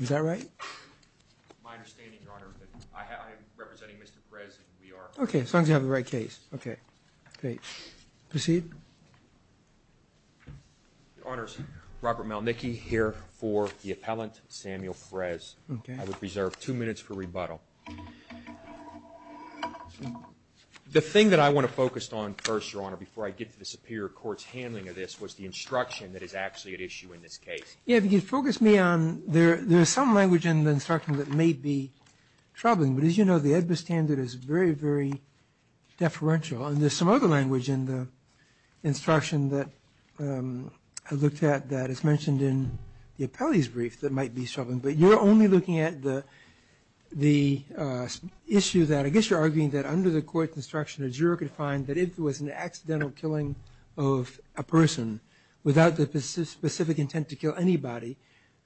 Is that right? My understanding, Your Honor, is that I am representing Mr. Frez and we are— Okay, as long as you have the right case. Okay, great. Proceed. Your Honors, Robert Malnicki here for the appellant, Samuel Frez. Okay. I would reserve two minutes for rebuttal. The thing that I want to focus on first, Your Honor, before I get to the Superior Court's handling of this, was the instruction that is actually at issue in this case. Yeah, if you could focus me on—there is some language in the instruction that may be troubling. But as you know, the EDBA standard is very, very deferential. And there's some other language in the instruction that I looked at that is mentioned in the appellee's brief that might be troubling. But you're only looking at the issue that—I guess you're arguing that under the court's instruction, a juror could find that if it was an accidental killing of a person without the specific intent to kill anybody,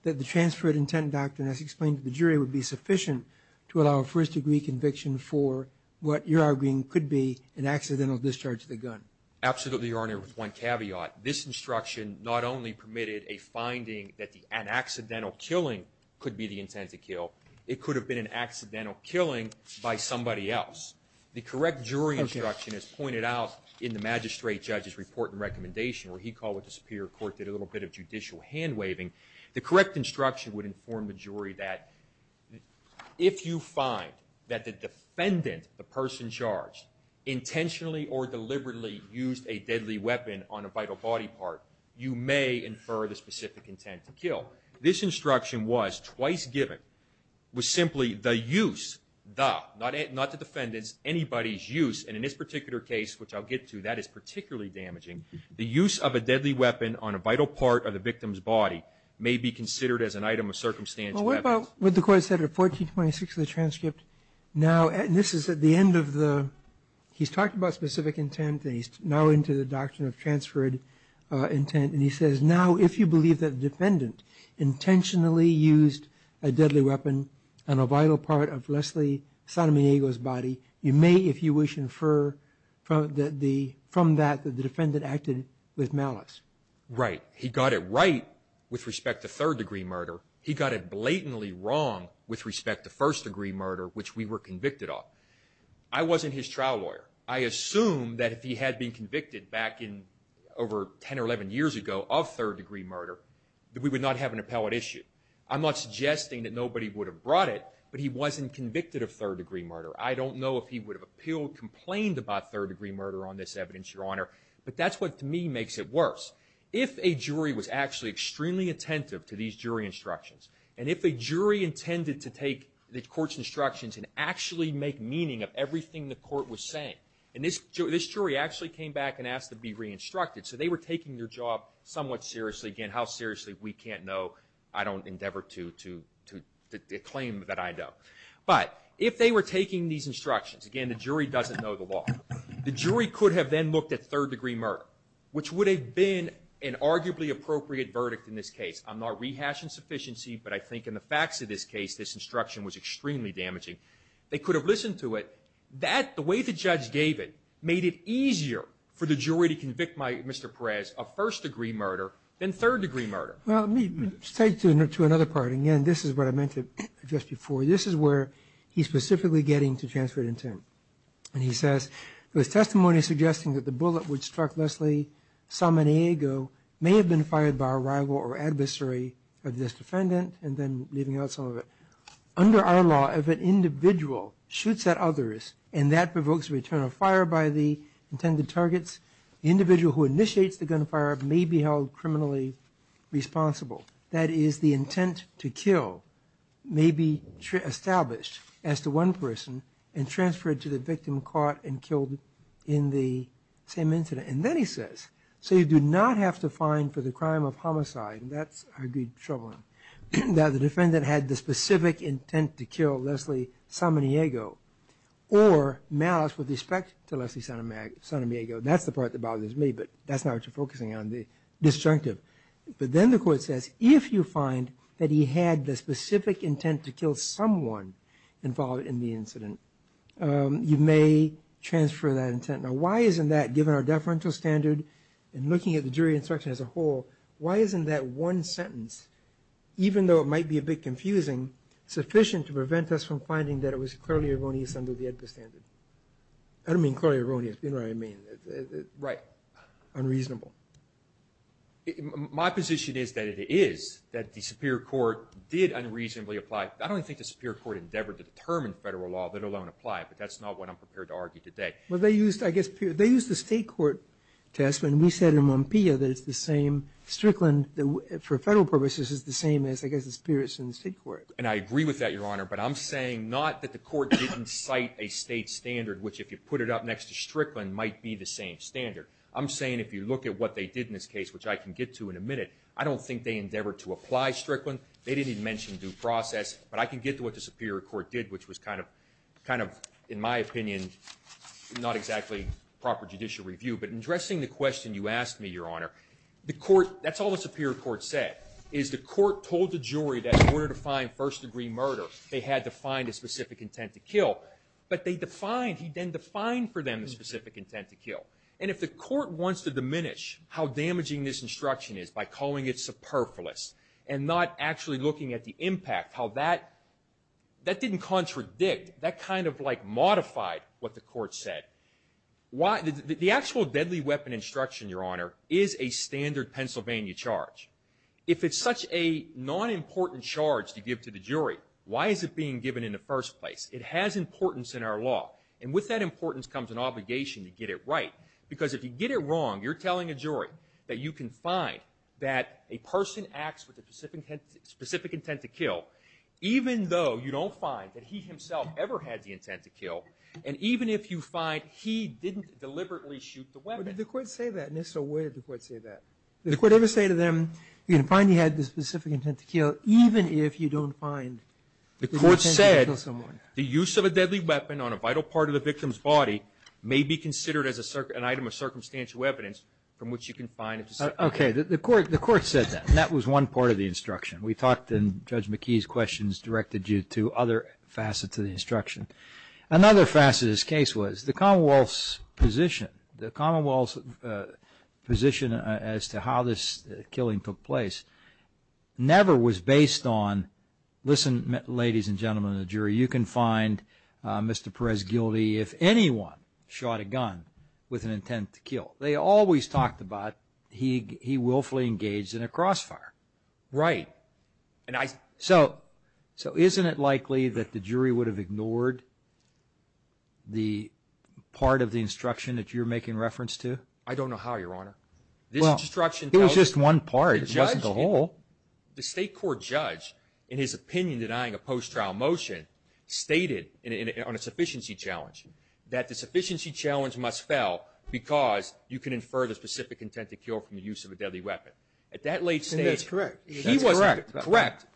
that the transfer of intent doctrine, as explained to the jury, would be sufficient to allow a first-degree conviction for what you're arguing could be an accidental discharge of the gun. Absolutely, Your Honor, with one caveat. This instruction not only permitted a finding that an accidental killing could be the intent to kill. It could have been an accidental killing by somebody else. The correct jury instruction, as pointed out in the magistrate judge's report and recommendation, where he called what disappeared, the court did a little bit of judicial hand-waving. The correct instruction would inform the jury that if you find that the defendant, the person charged, intentionally or deliberately used a deadly weapon on a vital body part, you may infer the specific intent to kill. So this instruction was, twice given, was simply the use, the, not the defendant's, anybody's use. And in this particular case, which I'll get to, that is particularly damaging. The use of a deadly weapon on a vital part of the victim's body may be considered as an item of circumstantial evidence. Well, what about what the court said at 1426 of the transcript? Now, and this is at the end of the—he's talking about specific intent. He's now into the doctrine of transferred intent. And he says, now, if you believe that the defendant intentionally used a deadly weapon on a vital part of Leslie Sotomayor's body, you may, if you wish, infer from that the defendant acted with malice. Right. He got it right with respect to third-degree murder. He got it blatantly wrong with respect to first-degree murder, which we were convicted of. I wasn't his trial lawyer. I assume that if he had been convicted back in, over 10 or 11 years ago of third-degree murder, that we would not have an appellate issue. I'm not suggesting that nobody would have brought it, but he wasn't convicted of third-degree murder. I don't know if he would have appealed, complained about third-degree murder on this evidence, Your Honor. But that's what, to me, makes it worse. If a jury was actually extremely attentive to these jury instructions, and if a jury intended to take the court's instructions and actually make meaning of everything the court was saying, and this jury actually came back and asked to be re-instructed, so they were taking their job somewhat seriously. Again, how seriously, we can't know. I don't endeavor to claim that I know. But if they were taking these instructions, again, the jury doesn't know the law, the jury could have then looked at third-degree murder, which would have been an arguably appropriate verdict in this case. I'm not rehashing sufficiency, but I think in the facts of this case, this instruction was extremely damaging. They could have listened to it. That, the way the judge gave it, made it easier for the jury to convict Mr. Perez of first-degree murder than third-degree murder. Roberts. Well, let me take you to another part. Again, this is what I meant just before. This is where he's specifically getting to transferred intent. And he says, There's testimony suggesting that the bullet which struck Leslie Salmonego may have been fired by a rival or adversary of this defendant, and then leaving out some of it. Under our law, if an individual shoots at others and that provokes a return of fire by the intended targets, the individual who initiates the gunfire may be held criminally responsible. That is, the intent to kill may be established as to one person and transferred to the victim caught and killed in the same incident. And then he says, So you do not have to find for the crime of homicide. And that's, I agree, troubling. Now, the defendant had the specific intent to kill Leslie Salmonego or malice with respect to Leslie Salmonego. That's the part that bothers me, but that's not what you're focusing on, the disjunctive. But then the court says, If you find that he had the specific intent to kill someone involved in the incident, you may transfer that intent. Now, why isn't that, given our deferential standard and looking at the jury instruction as a whole, why isn't that one sentence, even though it might be a bit confusing, sufficient to prevent us from finding that it was clearly erroneous under the AEDPA standard? I don't mean clearly erroneous. You know what I mean. Right. Unreasonable. My position is that it is, that the superior court did unreasonably apply. I don't think the superior court endeavored to determine federal law, let alone apply it. But that's not what I'm prepared to argue today. Well, they used, I guess, they used the state court test. And we said in Mompia that it's the same, Strickland, for federal purposes, is the same as, I guess, the spirits in the state court. And I agree with that, Your Honor, but I'm saying not that the court didn't cite a state standard, which if you put it up next to Strickland, might be the same standard. I'm saying if you look at what they did in this case, which I can get to in a minute, I don't think they endeavored to apply Strickland. They didn't even mention due process. But I can get to what the superior court did, which was kind of, in my opinion, not exactly proper judicial review. But addressing the question you asked me, Your Honor, the court, that's all the superior court said, is the court told the jury that in order to find first-degree murder, they had to find a specific intent to kill. But they defined, he then defined for them the specific intent to kill. And if the court wants to diminish how damaging this instruction is by calling it superfluous and not actually looking at the impact, how that didn't contradict, that kind of like modified what the court said. The actual deadly weapon instruction, Your Honor, is a standard Pennsylvania charge. If it's such a non-important charge to give to the jury, why is it being given in the first place? It has importance in our law. And with that importance comes an obligation to get it right. Because if you get it wrong, you're telling a jury that you can find that a person acts with a specific intent to kill, even though you don't find that he himself ever had the intent to kill, and even if you find he didn't deliberately shoot the weapon. But did the court say that? And if so, where did the court say that? Did the court ever say to them, you can find he had the specific intent to kill, even if you don't find the intent to kill someone? The court said the use of a deadly weapon on a vital part of the victim's body may be considered as an item of circumstantial evidence from which you can find it. Okay. The court said that. And that was one part of the instruction. We talked, and Judge McKee's questions directed you to other facets of the instruction. Another facet of this case was the Commonwealth's position, the Commonwealth's position as to how this killing took place never was based on, listen, ladies and gentlemen of the jury, you can find Mr. Perez guilty if anyone shot a gun with an intent to kill. They always talked about he willfully engaged in a crossfire. Right. So isn't it likely that the jury would have ignored the part of the instruction that you're making reference to? I don't know how, Your Honor. Well, it was just one part. It wasn't the whole. The state court judge, in his opinion, denying a post-trial motion, stated on a sufficiency challenge that the sufficiency challenge must fail because you can infer the specific intent to kill from the use of a deadly weapon. And that's correct. That's correct. Correct.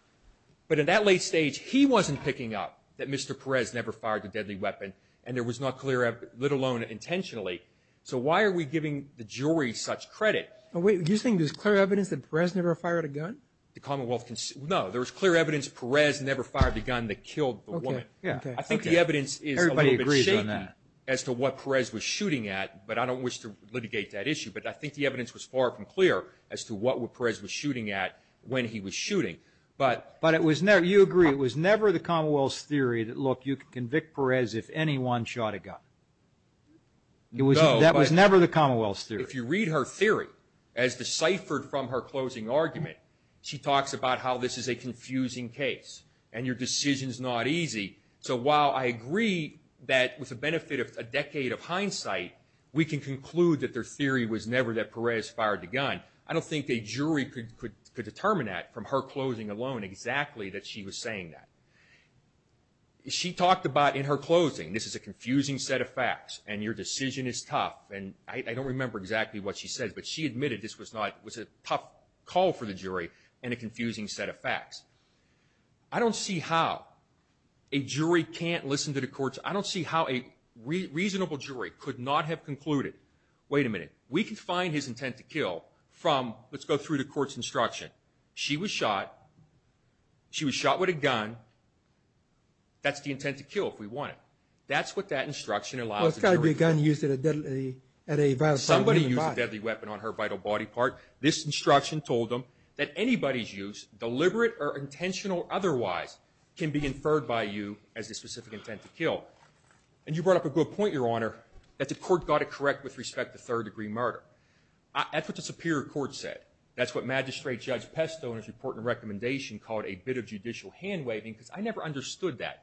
But in that late stage, he wasn't picking up that Mr. Perez never fired the deadly weapon, and it was not clear, let alone intentionally. So why are we giving the jury such credit? You're saying there's clear evidence that Perez never fired a gun? No, there was clear evidence Perez never fired the gun that killed the woman. Okay. I think the evidence is a little bit shaky as to what Perez was shooting at, but I don't wish to litigate that issue. But I think the evidence was far from clear as to what Perez was shooting at when he was shooting. But it was never, you agree, it was never the Commonwealth's theory that, look, you can convict Perez if anyone shot a gun. That was never the Commonwealth's theory. If you read her theory, as deciphered from her closing argument, she talks about how this is a confusing case and your decision is not easy. We can conclude that their theory was never that Perez fired the gun. I don't think a jury could determine that from her closing alone exactly that she was saying that. She talked about in her closing, this is a confusing set of facts and your decision is tough. And I don't remember exactly what she said, but she admitted this was a tough call for the jury and a confusing set of facts. I don't see how a jury can't listen to the courts. I don't see how a reasonable jury could not have concluded, wait a minute, we can find his intent to kill from, let's go through the court's instruction. She was shot. She was shot with a gun. That's the intent to kill if we want it. That's what that instruction allows the jury to do. Well, it's got to be a gun used at a vital point in the body. Somebody used a deadly weapon on her vital body part. This instruction told them that anybody's use, deliberate or intentional or otherwise, can be inferred by you as the specific intent to kill. And you brought up a good point, Your Honor, that the court got it correct with respect to third-degree murder. That's what the Superior Court said. That's what Magistrate Judge Pesto in his report and recommendation called a bit of judicial hand-waving because I never understood that.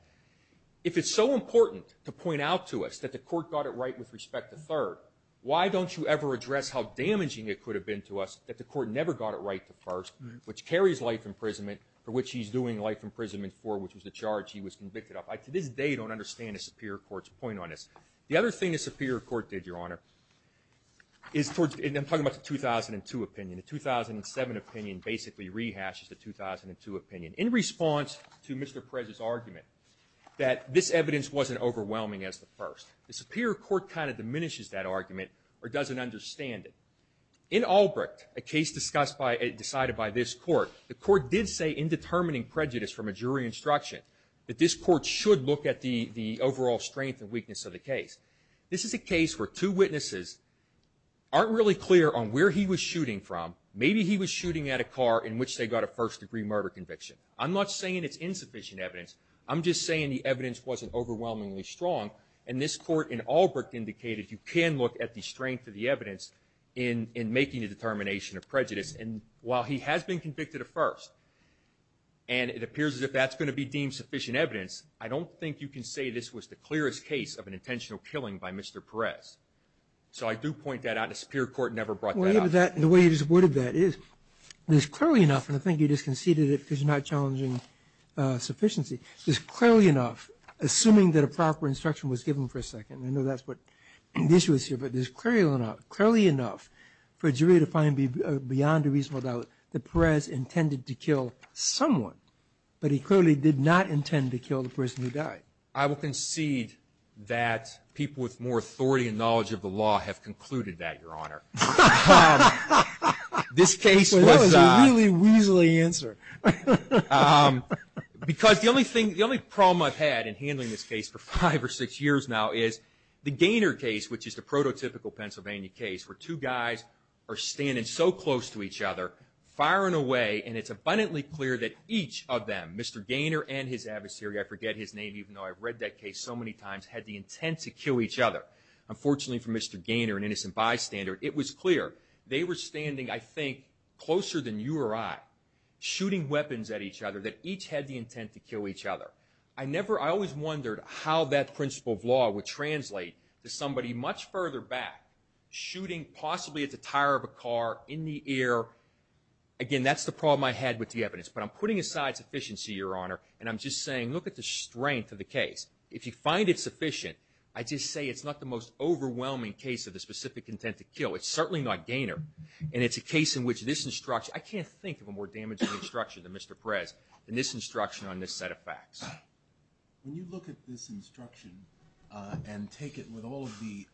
If it's so important to point out to us that the court got it right with respect to third, why don't you ever address how damaging it could have been to us that the court never got it right to first, which carries life imprisonment for which he's doing life imprisonment for, which was the charge he was convicted of? I, to this day, don't understand the Superior Court's point on this. The other thing the Superior Court did, Your Honor, is towards the 2002 opinion. The 2007 opinion basically rehashes the 2002 opinion in response to Mr. Perez's argument that this evidence wasn't overwhelming as the first. The Superior Court kind of diminishes that argument or doesn't understand it. In Albrecht, a case decided by this court, the court did say in determining prejudice from a jury instruction that this court should look at the overall strength and weakness of the case. This is a case where two witnesses aren't really clear on where he was shooting from. Maybe he was shooting at a car in which they got a first-degree murder conviction. I'm not saying it's insufficient evidence. I'm just saying the evidence wasn't overwhelmingly strong, and this court in Albrecht indicated you can look at the strength of the evidence in making a determination of prejudice. And while he has been convicted of first, and it appears as if that's going to be deemed sufficient evidence, I don't think you can say this was the clearest case of an intentional killing by Mr. Perez. So I do point that out, and the Superior Court never brought that up. The way you just worded that is clearly enough, and I think you just conceded it because you're not challenging sufficiency, is clearly enough, assuming that a proper instruction was given for a second. I know that's what the issue is here, but it's clearly enough for a jury to find beyond a reasonable doubt that Perez intended to kill someone, but he clearly did not intend to kill the person who died. I will concede that people with more authority and knowledge of the law have concluded that, Your Honor. This case was a really weaselly answer. Because the only problem I've had in handling this case for five or six years now is the Gaynor case, which is the prototypical Pennsylvania case, where two guys are standing so close to each other, firing away, and it's abundantly clear that each of them, Mr. Gaynor and his adversary, I forget his name even though I've read that case so many times, had the intent to kill each other. Unfortunately for Mr. Gaynor, an innocent bystander, it was clear. They were standing, I think, closer than you or I, shooting weapons at each other that each had the intent to kill each other. I always wondered how that principle of law would translate to somebody much further back shooting possibly at the tire of a car in the air. Again, that's the problem I had with the evidence, but I'm putting aside sufficiency, Your Honor, and I'm just saying look at the strength of the case. If you find it sufficient, I just say it's not the most overwhelming case of the specific intent to kill. It's certainly not Gaynor, and it's a case in which this instruction, I can't think of a more damaging instruction than Mr. Perez, than this instruction on this set of facts. When you look at this instruction and take it with all of the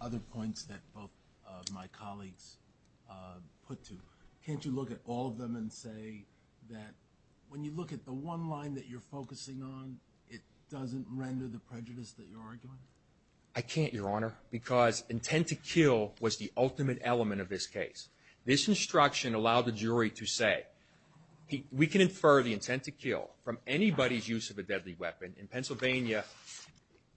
other points that both of my colleagues put to, can't you look at all of them and say that when you look at the one line that you're focusing on, it doesn't render the prejudice that you're arguing? I can't, Your Honor, because intent to kill was the ultimate element of this case. This instruction allowed the jury to say we can infer the intent to kill from anybody's use of a deadly weapon. In Pennsylvania,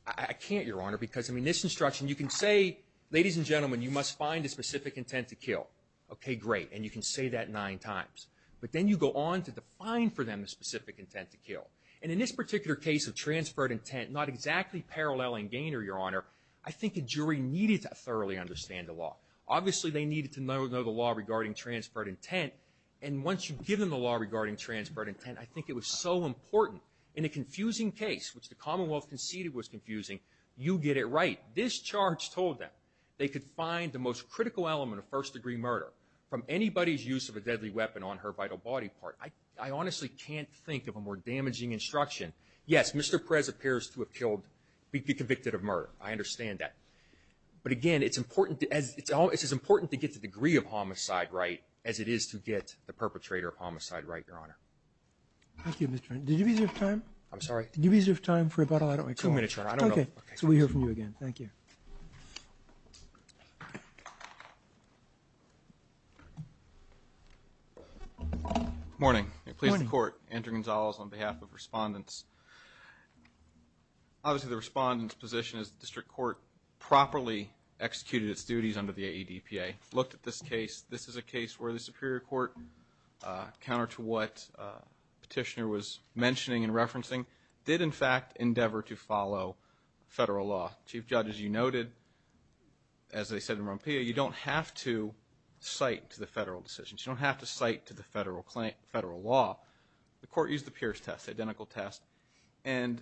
I can't, Your Honor, because I mean this instruction, you can say, ladies and gentlemen, you must find a specific intent to kill. Okay, great, and you can say that nine times, but then you go on to define for them the specific intent to kill. And in this particular case of transferred intent, not exactly paralleling Gaynor, Your Honor, I think a jury needed to thoroughly understand the law. Obviously, they needed to know the law regarding transferred intent, and once you've given the law regarding transferred intent, I think it was so important. In a confusing case, which the Commonwealth conceded was confusing, you get it right. This charge told them they could find the most critical element of first-degree murder from anybody's use of a deadly weapon on her vital body part. I honestly can't think of a more damaging instruction. Yes, Mr. Perez appears to have killed, be convicted of murder. I understand that. But again, it's as important to get the degree of homicide right as it is to get the perpetrator of homicide right, Your Honor. Thank you, Mr. Turner. Did you reserve time? I'm sorry? Did you reserve time for rebuttal? I don't recall. Two minutes, Your Honor. Okay, so we hear from you again. Thank you. Good morning. Good morning. I'm pleased to report Andrew Gonzalez on behalf of Respondents. Obviously, the Respondent's position is the District Court properly executed its duties under the AEDPA, looked at this case. This is a case where the Superior Court, counter to what Petitioner was mentioning and referencing, Chief Judge, as you know, noted, as they said in Rompillo, you don't have to cite to the federal decisions. You don't have to cite to the federal law. The Court used the Pierce test, identical test, and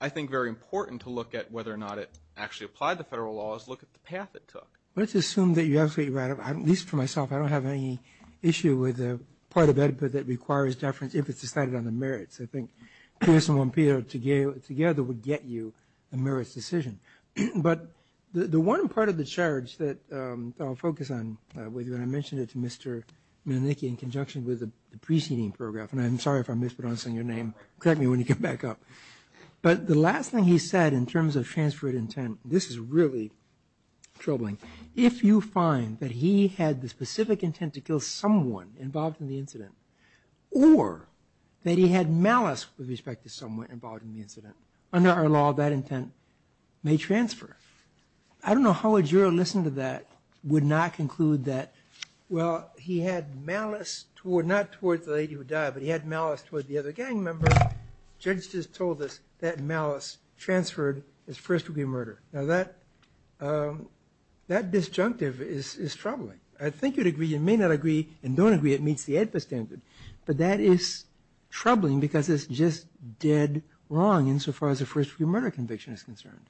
I think very important to look at whether or not it actually applied the federal law is look at the path it took. Let's assume that you're absolutely right. At least for myself, I don't have any issue with the part of AEDPA that requires deference if it's decided on the merits. I think Pierce and Rompillo together would get you a merits decision. But the one part of the charge that I'll focus on with you, and I mentioned it to Mr. Malenicki in conjunction with the preceding paragraph, and I'm sorry if I'm mispronouncing your name. Correct me when you come back up. But the last thing he said in terms of transfer of intent, this is really troubling. If you find that he had the specific intent to kill someone involved in the incident or that he had malice with respect to someone involved in the incident, under our law, that intent may transfer. I don't know how a juror listening to that would not conclude that, well, he had malice toward, not toward the lady who died, but he had malice toward the other gang member. Judges just told us that malice transferred as first-degree murder. Now, that disjunctive is troubling. I think you'd agree, you may not agree, and don't agree it meets the AEDPA standard. But that is troubling because it's just dead wrong insofar as a first-degree murder conviction is concerned.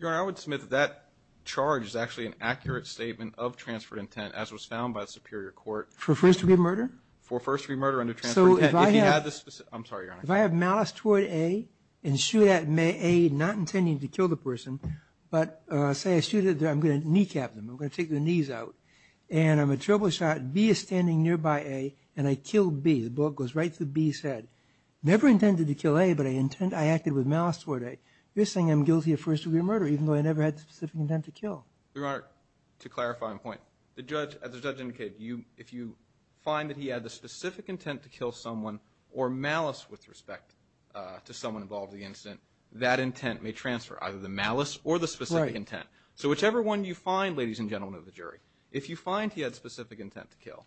Your Honor, I would submit that that charge is actually an accurate statement of transferred intent, as was found by the Superior Court. For first-degree murder? For first-degree murder under transferring intent. If he had this specific – I'm sorry, Your Honor. If I have malice toward A and shoot at A, not intending to kill the person, but say I shoot at them, I'm going to kneecap them, I'm going to take their knees out, and I'm a triple shot, B is standing nearby A, and I kill B. The bullet goes right through B's head. Never intended to kill A, but I acted with malice toward A. You're saying I'm guilty of first-degree murder, even though I never had the specific intent to kill. Your Honor, to clarify and point, as the judge indicated, if you find that he had the specific intent to kill someone or malice with respect to someone involved in the incident, that intent may transfer, either the malice or the specific intent. So whichever one you find, ladies and gentlemen of the jury, if you find he had specific intent to kill,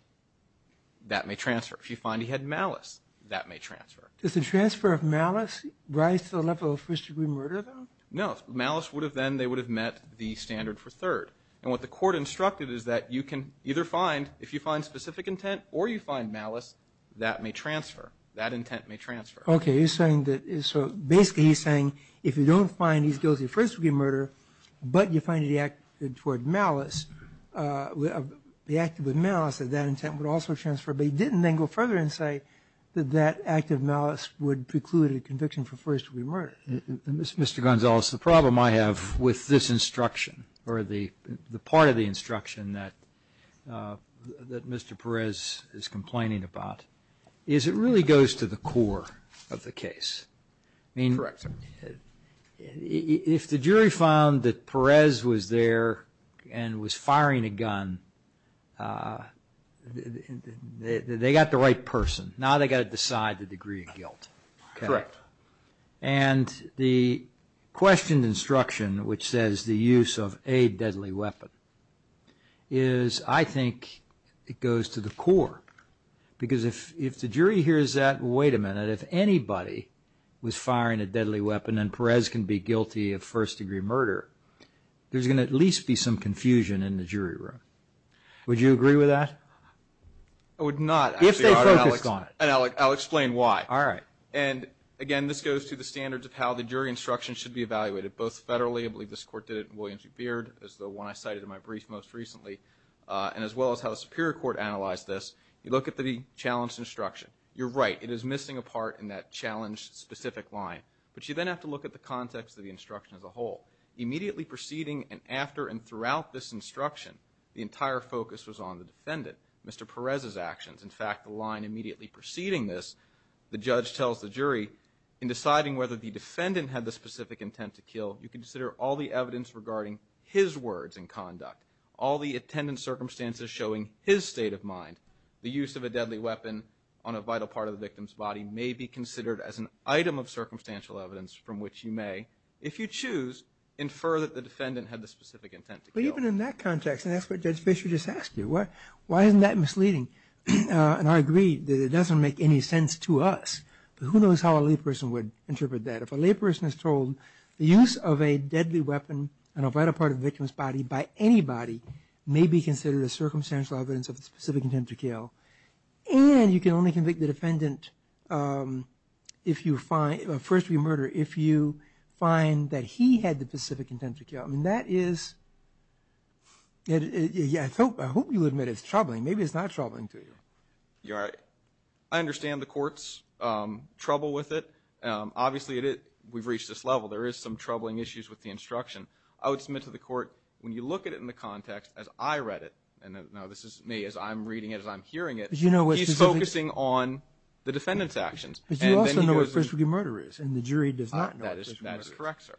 that may transfer. If you find he had malice, that may transfer. Does the transfer of malice rise to the level of first-degree murder, though? No. Malice would have then – they would have met the standard for third. And what the court instructed is that you can either find – if you find specific intent or you find malice, that may transfer. That intent may transfer. Okay. So basically he's saying if you don't find he's guilty of first-degree murder, but you find he acted toward malice, he acted with malice, that that intent would also transfer, but he didn't then go further and say that that act of malice would preclude a conviction for first-degree murder. Mr. Gonzales, the problem I have with this instruction or the part of the instruction that Mr. Perez is complaining about is it really goes to the core of the case. Correct, sir. If the jury found that Perez was there and was firing a gun, they got the right person. Now they've got to decide the degree of guilt. Correct. And the questioned instruction, which says the use of a deadly weapon, is I think it goes to the core. Because if the jury hears that, wait a minute, that if anybody was firing a deadly weapon and Perez can be guilty of first-degree murder, there's going to at least be some confusion in the jury room. Would you agree with that? I would not. If they focus on it. And I'll explain why. All right. And, again, this goes to the standards of how the jury instruction should be evaluated, both federally, I believe this Court did it in Williams v. Beard, as the one I cited in my brief most recently, and as well as how the Superior Court analyzed this. You look at the challenge instruction. You're right. It is missing a part in that challenge-specific line. But you then have to look at the context of the instruction as a whole. Immediately preceding and after and throughout this instruction, the entire focus was on the defendant, Mr. Perez's actions. In fact, the line immediately preceding this, the judge tells the jury, in deciding whether the defendant had the specific intent to kill, you consider all the evidence regarding his words and conduct, all the attendant circumstances showing his state of mind, the use of a deadly weapon on a vital part of the victim's body may be considered as an item of circumstantial evidence from which you may, if you choose, infer that the defendant had the specific intent to kill. But even in that context, and that's what Judge Fisher just asked you, why isn't that misleading? And I agree that it doesn't make any sense to us. But who knows how a layperson would interpret that. If a layperson is told the use of a deadly weapon on a vital part of the victim's body by anybody may be considered as circumstantial evidence of the specific intent to kill, and you can only convict the defendant if you find, first remurder, if you find that he had the specific intent to kill. And that is, I hope you'll admit it's troubling. Maybe it's not troubling to you. You're right. I understand the court's trouble with it. Obviously, we've reached this level. There is some troubling issues with the instruction. I would submit to the court, when you look at it in the context as I read it, and now this is me as I'm reading it, as I'm hearing it, he's focusing on the defendant's actions. But you also know what first remurder is, and the jury does not know what first remurder is. That is correct, sir.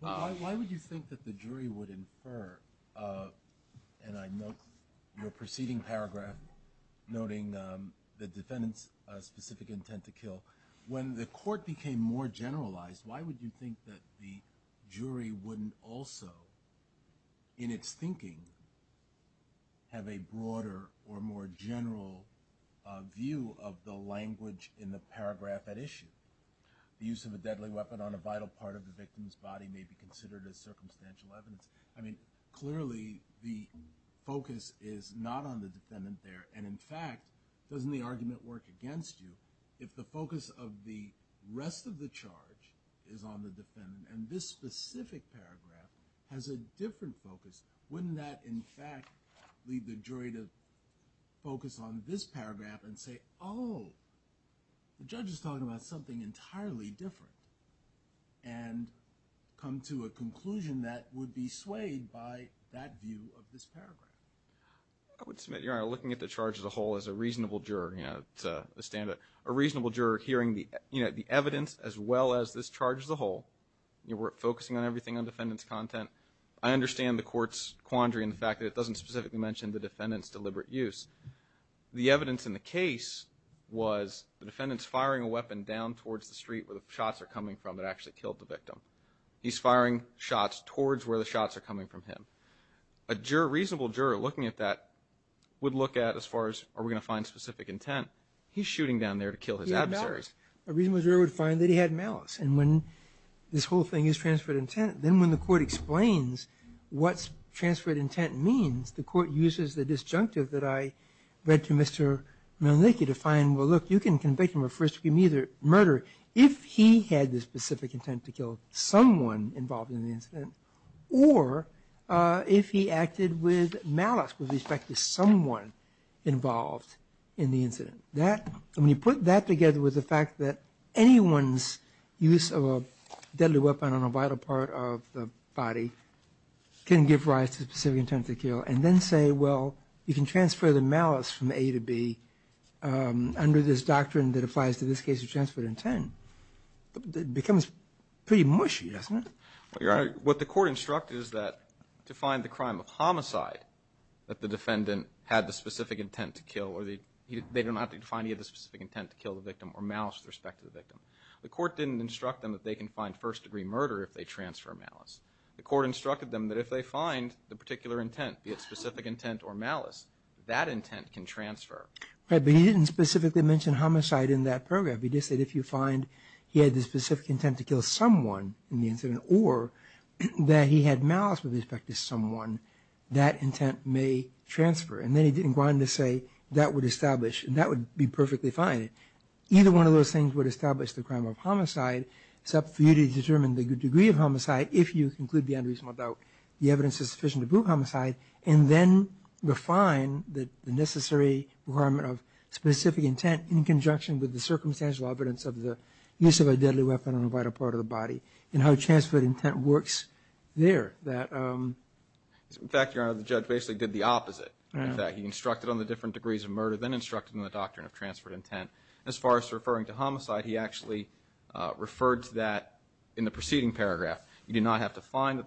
Why would you think that the jury would infer, and I note your preceding paragraph noting the defendant's specific intent to kill, when the court became more generalized, why would you think that the jury wouldn't also, in its thinking, have a broader or more general view of the language in the paragraph at issue? The use of a deadly weapon on a vital part of the victim's body may be considered as circumstantial evidence. I mean, clearly the focus is not on the defendant there, and, in fact, doesn't the argument work against you? If the focus of the rest of the charge is on the defendant, and this specific paragraph has a different focus, wouldn't that, in fact, lead the jury to focus on this paragraph and say, oh, the judge is talking about something entirely different, and come to a conclusion that would be swayed by that view of this paragraph? I would submit, Your Honor, looking at the charge as a whole, as a reasonable juror, a reasonable juror hearing the evidence as well as this charge as a whole, we're focusing on everything on defendant's content, I understand the court's quandary in the fact that it doesn't specifically mention the defendant's deliberate use. The evidence in the case was the defendant's firing a weapon down towards the street where the shots are coming from that actually killed the victim. He's firing shots towards where the shots are coming from him. A reasonable juror looking at that would look at, as far as, are we going to find specific intent? He's shooting down there to kill his adversaries. A reasonable juror would find that he had malice, and when this whole thing is transferred intent, then when the court explains what transferred intent means, the court uses the disjunctive that I read to Mr. Malenicki to find, well, look, you can convict him of first-degree murder if he had the specific intent to kill someone involved in the incident, or if he acted with malice with respect to someone involved in the incident. When you put that together with the fact that anyone's use of a deadly weapon on a vital part of the body can give rise to specific intent to kill, and then say, well, you can transfer the malice from A to B under this doctrine that applies to this case of transferred intent, it becomes pretty mushy, doesn't it? Your Honor, what the court instructed is that to find the crime of homicide, that the defendant had the specific intent to kill, or they did not have to find he had the specific intent to kill the victim or malice with respect to the victim. The court didn't instruct them that they can find first-degree murder if they transfer malice. The court instructed them that if they find the particular intent, be it specific intent or malice, that intent can transfer. Right, but he didn't specifically mention homicide in that program. He just said if you find he had the specific intent to kill someone in the incident, or that he had malice with respect to someone, that intent may transfer. And then he didn't go on to say that would establish, and that would be perfectly fine. Either one of those things would establish the crime of homicide. It's up for you to determine the degree of homicide if you conclude the unreasonable doubt. The evidence is sufficient to prove homicide, and then refine the necessary requirement of specific intent in conjunction with the circumstantial evidence of the use of a deadly weapon on a vital part of the body and how transferred intent works there. In fact, Your Honor, the judge basically did the opposite of that. He instructed on the different degrees of murder, then instructed on the doctrine of transferred intent. As far as referring to homicide, he actually referred to that in the preceding paragraph. You do not have to find the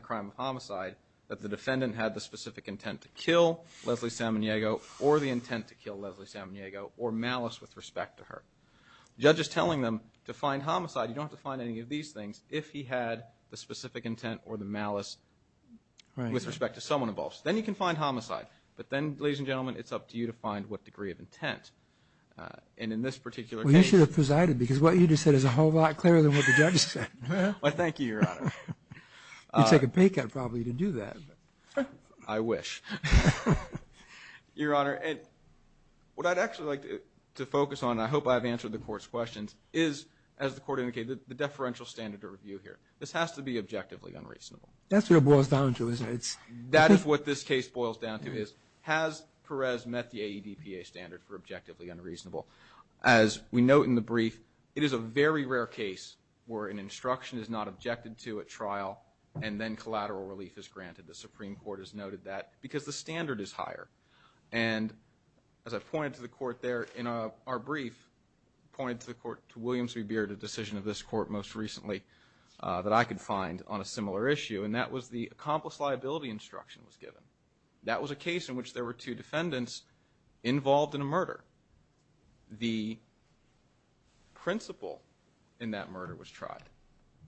crime of homicide, that the defendant had the specific intent to kill Leslie Samaniego or the intent to kill Leslie Samaniego or malice with respect to her. The judge is telling them to find homicide. You don't have to find any of these things if he had the specific intent or the malice with respect to someone involved. Then you can find homicide. But then, ladies and gentlemen, it's up to you to find what degree of intent. And in this particular case. Well, you should have presided because what you just said is a whole lot clearer than what the judge said. Why, thank you, Your Honor. You'd take a pay cut probably to do that. I wish. Your Honor, what I'd actually like to focus on, and I hope I've answered the Court's questions, is, as the Court indicated, the deferential standard to review here. This has to be objectively unreasonable. That's what it boils down to, isn't it? That is what this case boils down to is, has Perez met the AEDPA standard for objectively unreasonable? As we note in the brief, it is a very rare case where an instruction is not objected to at trial and then collateral relief is granted. The Supreme Court has noted that because the standard is higher. And as I pointed to the Court there in our brief, pointed to Williams v. Beard, a decision of this Court most recently that I could find on a similar issue, and that was the accomplice liability instruction was given. That was a case in which there were two defendants involved in a murder. The principle in that murder was tried.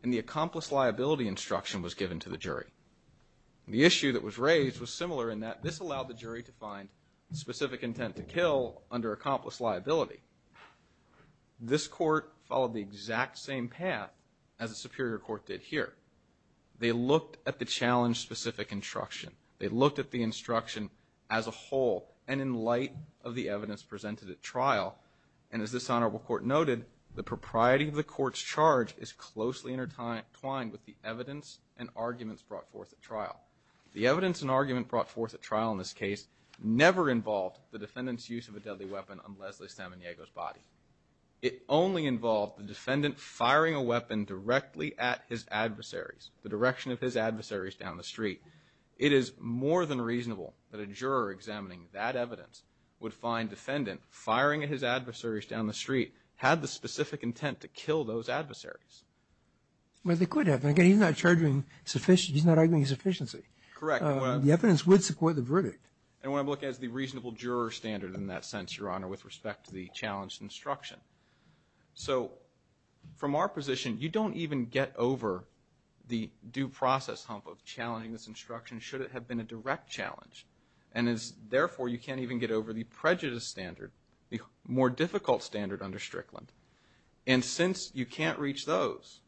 And the accomplice liability instruction was given to the jury. The issue that was raised was similar in that this allowed the jury to find specific intent to kill under accomplice liability. This Court followed the exact same path as the Superior Court did here. They looked at the challenge-specific instruction. They looked at the instruction as a whole and in light of the evidence presented at trial. And as this honorable Court noted, the propriety of the Court's charge is closely intertwined with the evidence and arguments brought forth at trial. The evidence and argument brought forth at trial in this case never involved the defendant's use of a deadly weapon on Leslie Samaniego's body. It only involved the defendant firing a weapon directly at his adversaries, the direction of his adversaries down the street. It is more than reasonable that a juror examining that evidence would find defendant firing at his adversaries down the street had the specific intent to kill those adversaries. But they could have. Again, he's not arguing sufficiency. Correct. The evidence would support the verdict. And when I look at the reasonable juror standard in that sense, Your Honor, with respect to the challenge instruction. So from our position, you don't even get over the due process hump of challenging this instruction should it have been a direct challenge. And therefore, you can't even get over the prejudice standard, the more difficult standard under Strickland. And since you can't reach those,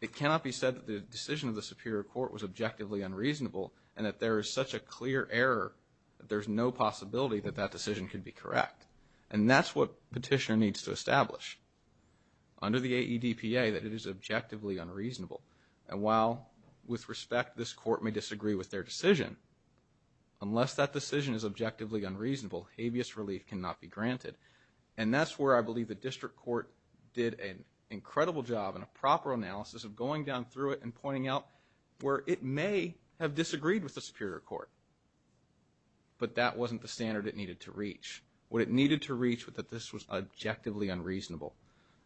it cannot be said that the decision of the Superior Court was objectively unreasonable and that there is such a clear error that there's no possibility that that decision could be correct. And that's what Petitioner needs to establish under the AEDPA, that it is objectively unreasonable. And while, with respect, this court may disagree with their decision, unless that decision is objectively unreasonable, habeas relief cannot be granted. And that's where I believe the District Court did an incredible job in a proper analysis of going down through it and pointing out where it may have disagreed with the Superior Court, but that wasn't the standard it needed to reach. What it needed to reach was that this was objectively unreasonable.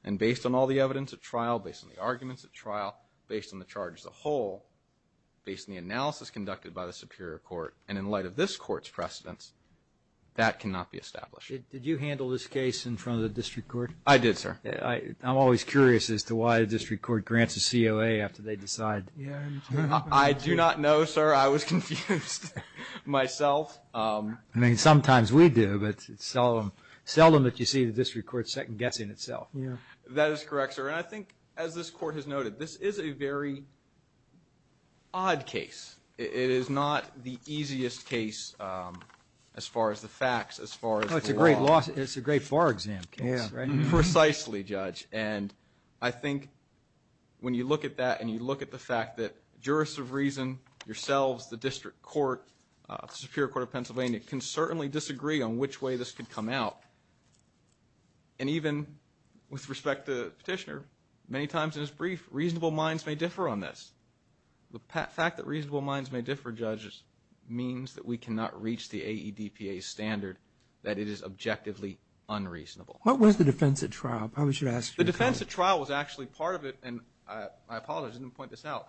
And based on all the evidence at trial, based on the arguments at trial, based on the charge as a whole, based on the analysis conducted by the Superior Court, and in light of this court's precedence, that cannot be established. Did you handle this case in front of the District Court? I did, sir. I'm always curious as to why the District Court grants a COA after they decide. I do not know, sir. I was confused myself. I mean, sometimes we do, but seldom that you see the District Court second-guessing itself. That is correct, sir. And I think, as this court has noted, this is a very odd case. It is not the easiest case as far as the facts, as far as the law. It's a great bar exam case, right? Precisely, Judge. And I think when you look at that and you look at the fact that jurists of reason, yourselves, the District Court, the Superior Court of Pennsylvania, can certainly disagree on which way this could come out. And even with respect to Petitioner, many times in his brief, reasonable minds may differ on this. The fact that reasonable minds may differ, Judge, means that we cannot reach the AEDPA's standard that it is objectively unreasonable. What was the defense at trial? I probably should ask you. The defense at trial was actually part of it, and I apologize, I didn't point this out.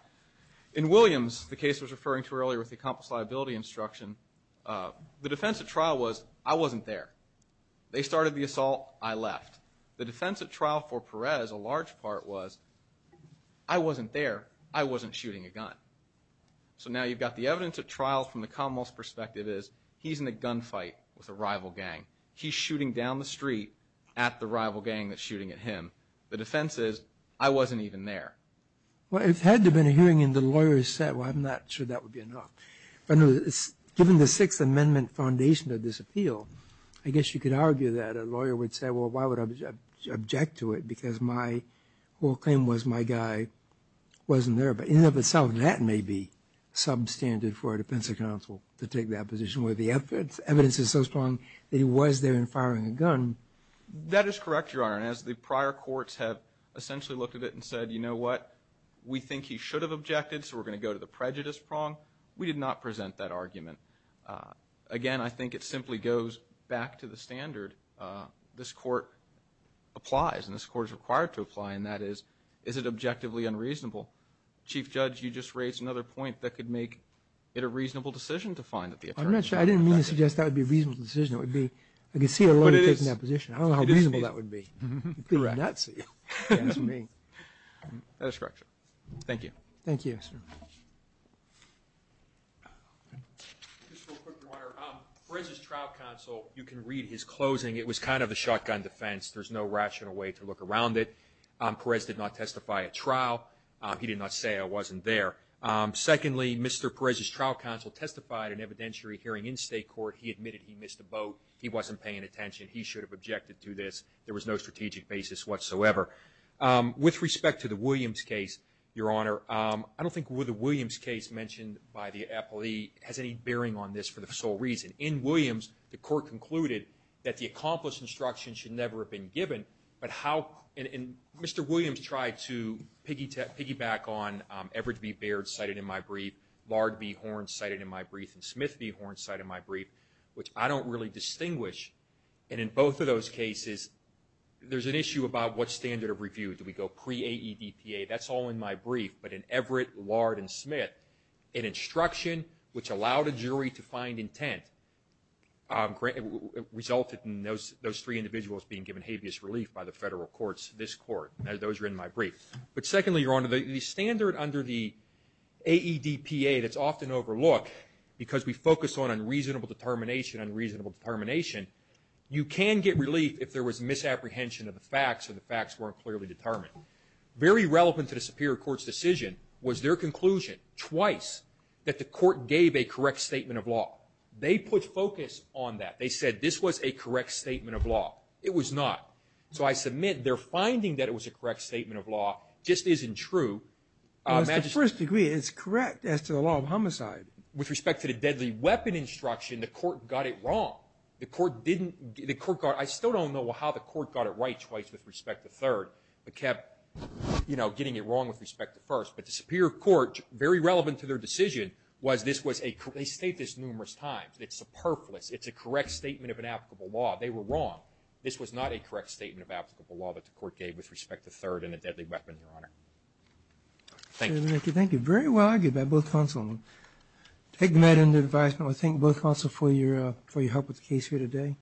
In Williams, the case I was referring to earlier with the accomplice liability instruction, the defense at trial was, I wasn't there. They started the assault, I left. The defense at trial for Perez, a large part, was, I wasn't there, I wasn't shooting a gun. So now you've got the evidence at trial from the commonwealth's perspective is, he's in a gunfight with a rival gang. He's shooting down the street at the rival gang that's shooting at him. The defense is, I wasn't even there. Well, it had to have been a hearing, and the lawyers said, well, I'm not sure that would be enough. Given the Sixth Amendment foundation of this appeal, I guess you could argue that a lawyer would say, well, why would I object to it, because my whole claim was my guy wasn't there. But in and of itself, that may be substandard for a defense counsel to take that position, where the evidence is so strong that he was there and firing a gun. That is correct, Your Honor. And as the prior courts have essentially looked at it and said, you know what, we think he should have objected, so we're going to go to the prejudice prong. We did not present that argument. Again, I think it simply goes back to the standard. This court applies, and this court is required to apply, and that is, is it objectively unreasonable? Chief Judge, you just raised another point that could make it a reasonable decision to find that the attorney was not there. I'm not sure. I didn't mean to suggest that would be a reasonable decision. It would be, I could see a lawyer taking that position. I don't know how reasonable that would be. It would be nuts of you. That's me. That is correct, Your Honor. Thank you. Thank you. Just real quick, Your Honor. Perez's trial counsel, you can read his closing. It was kind of a shotgun defense. There's no rational way to look around it. Perez did not testify at trial. He did not say I wasn't there. Secondly, Mr. Perez's trial counsel testified in evidentiary hearing in state court. He admitted he missed a boat. He wasn't paying attention. He should have objected to this. There was no strategic basis whatsoever. With respect to the Williams case, Your Honor, I don't think the Williams case mentioned by the appellee has any bearing on this for the sole reason. In Williams, the court concluded that the accomplished instruction should never have been given, but how Mr. Williams tried to piggyback on Everett B. Baird cited in my brief, Lard B. Horn cited in my brief, and Smith B. Horn cited in my brief, which I don't really distinguish. And in both of those cases, there's an issue about what standard of review. Do we go pre-AEDPA? That's all in my brief. But in Everett, Lard, and Smith, an instruction which allowed a jury to find intent resulted in those three individuals being given habeas relief by the federal courts, this court. Those are in my brief. But secondly, Your Honor, the standard under the AEDPA that's often overlooked because we focus on unreasonable determination, unreasonable determination, you can get relief if there was misapprehension of the facts or the facts weren't clearly determined. Very relevant to the Superior Court's decision was their conclusion twice that the court gave a correct statement of law. They put focus on that. They said this was a correct statement of law. It was not. So I submit their finding that it was a correct statement of law just isn't true. It was the first degree. It's correct as to the law of homicide. With respect to the deadly weapon instruction, the court got it wrong. The court didn't – the court got – I still don't know how the court got it right twice with respect to third, but kept, you know, getting it wrong with respect to first. But the Superior Court, very relevant to their decision, was this was a – they state this numerous times. It's superfluous. It's a correct statement of an applicable law. They were wrong. This was not a correct statement of applicable law that the court gave with respect to third and a deadly weapon, Your Honor. Thank you. Thank you. Thank you. Very well argued by both counsel. I take the matter under advisement. I thank both counsel for your help with the case here today.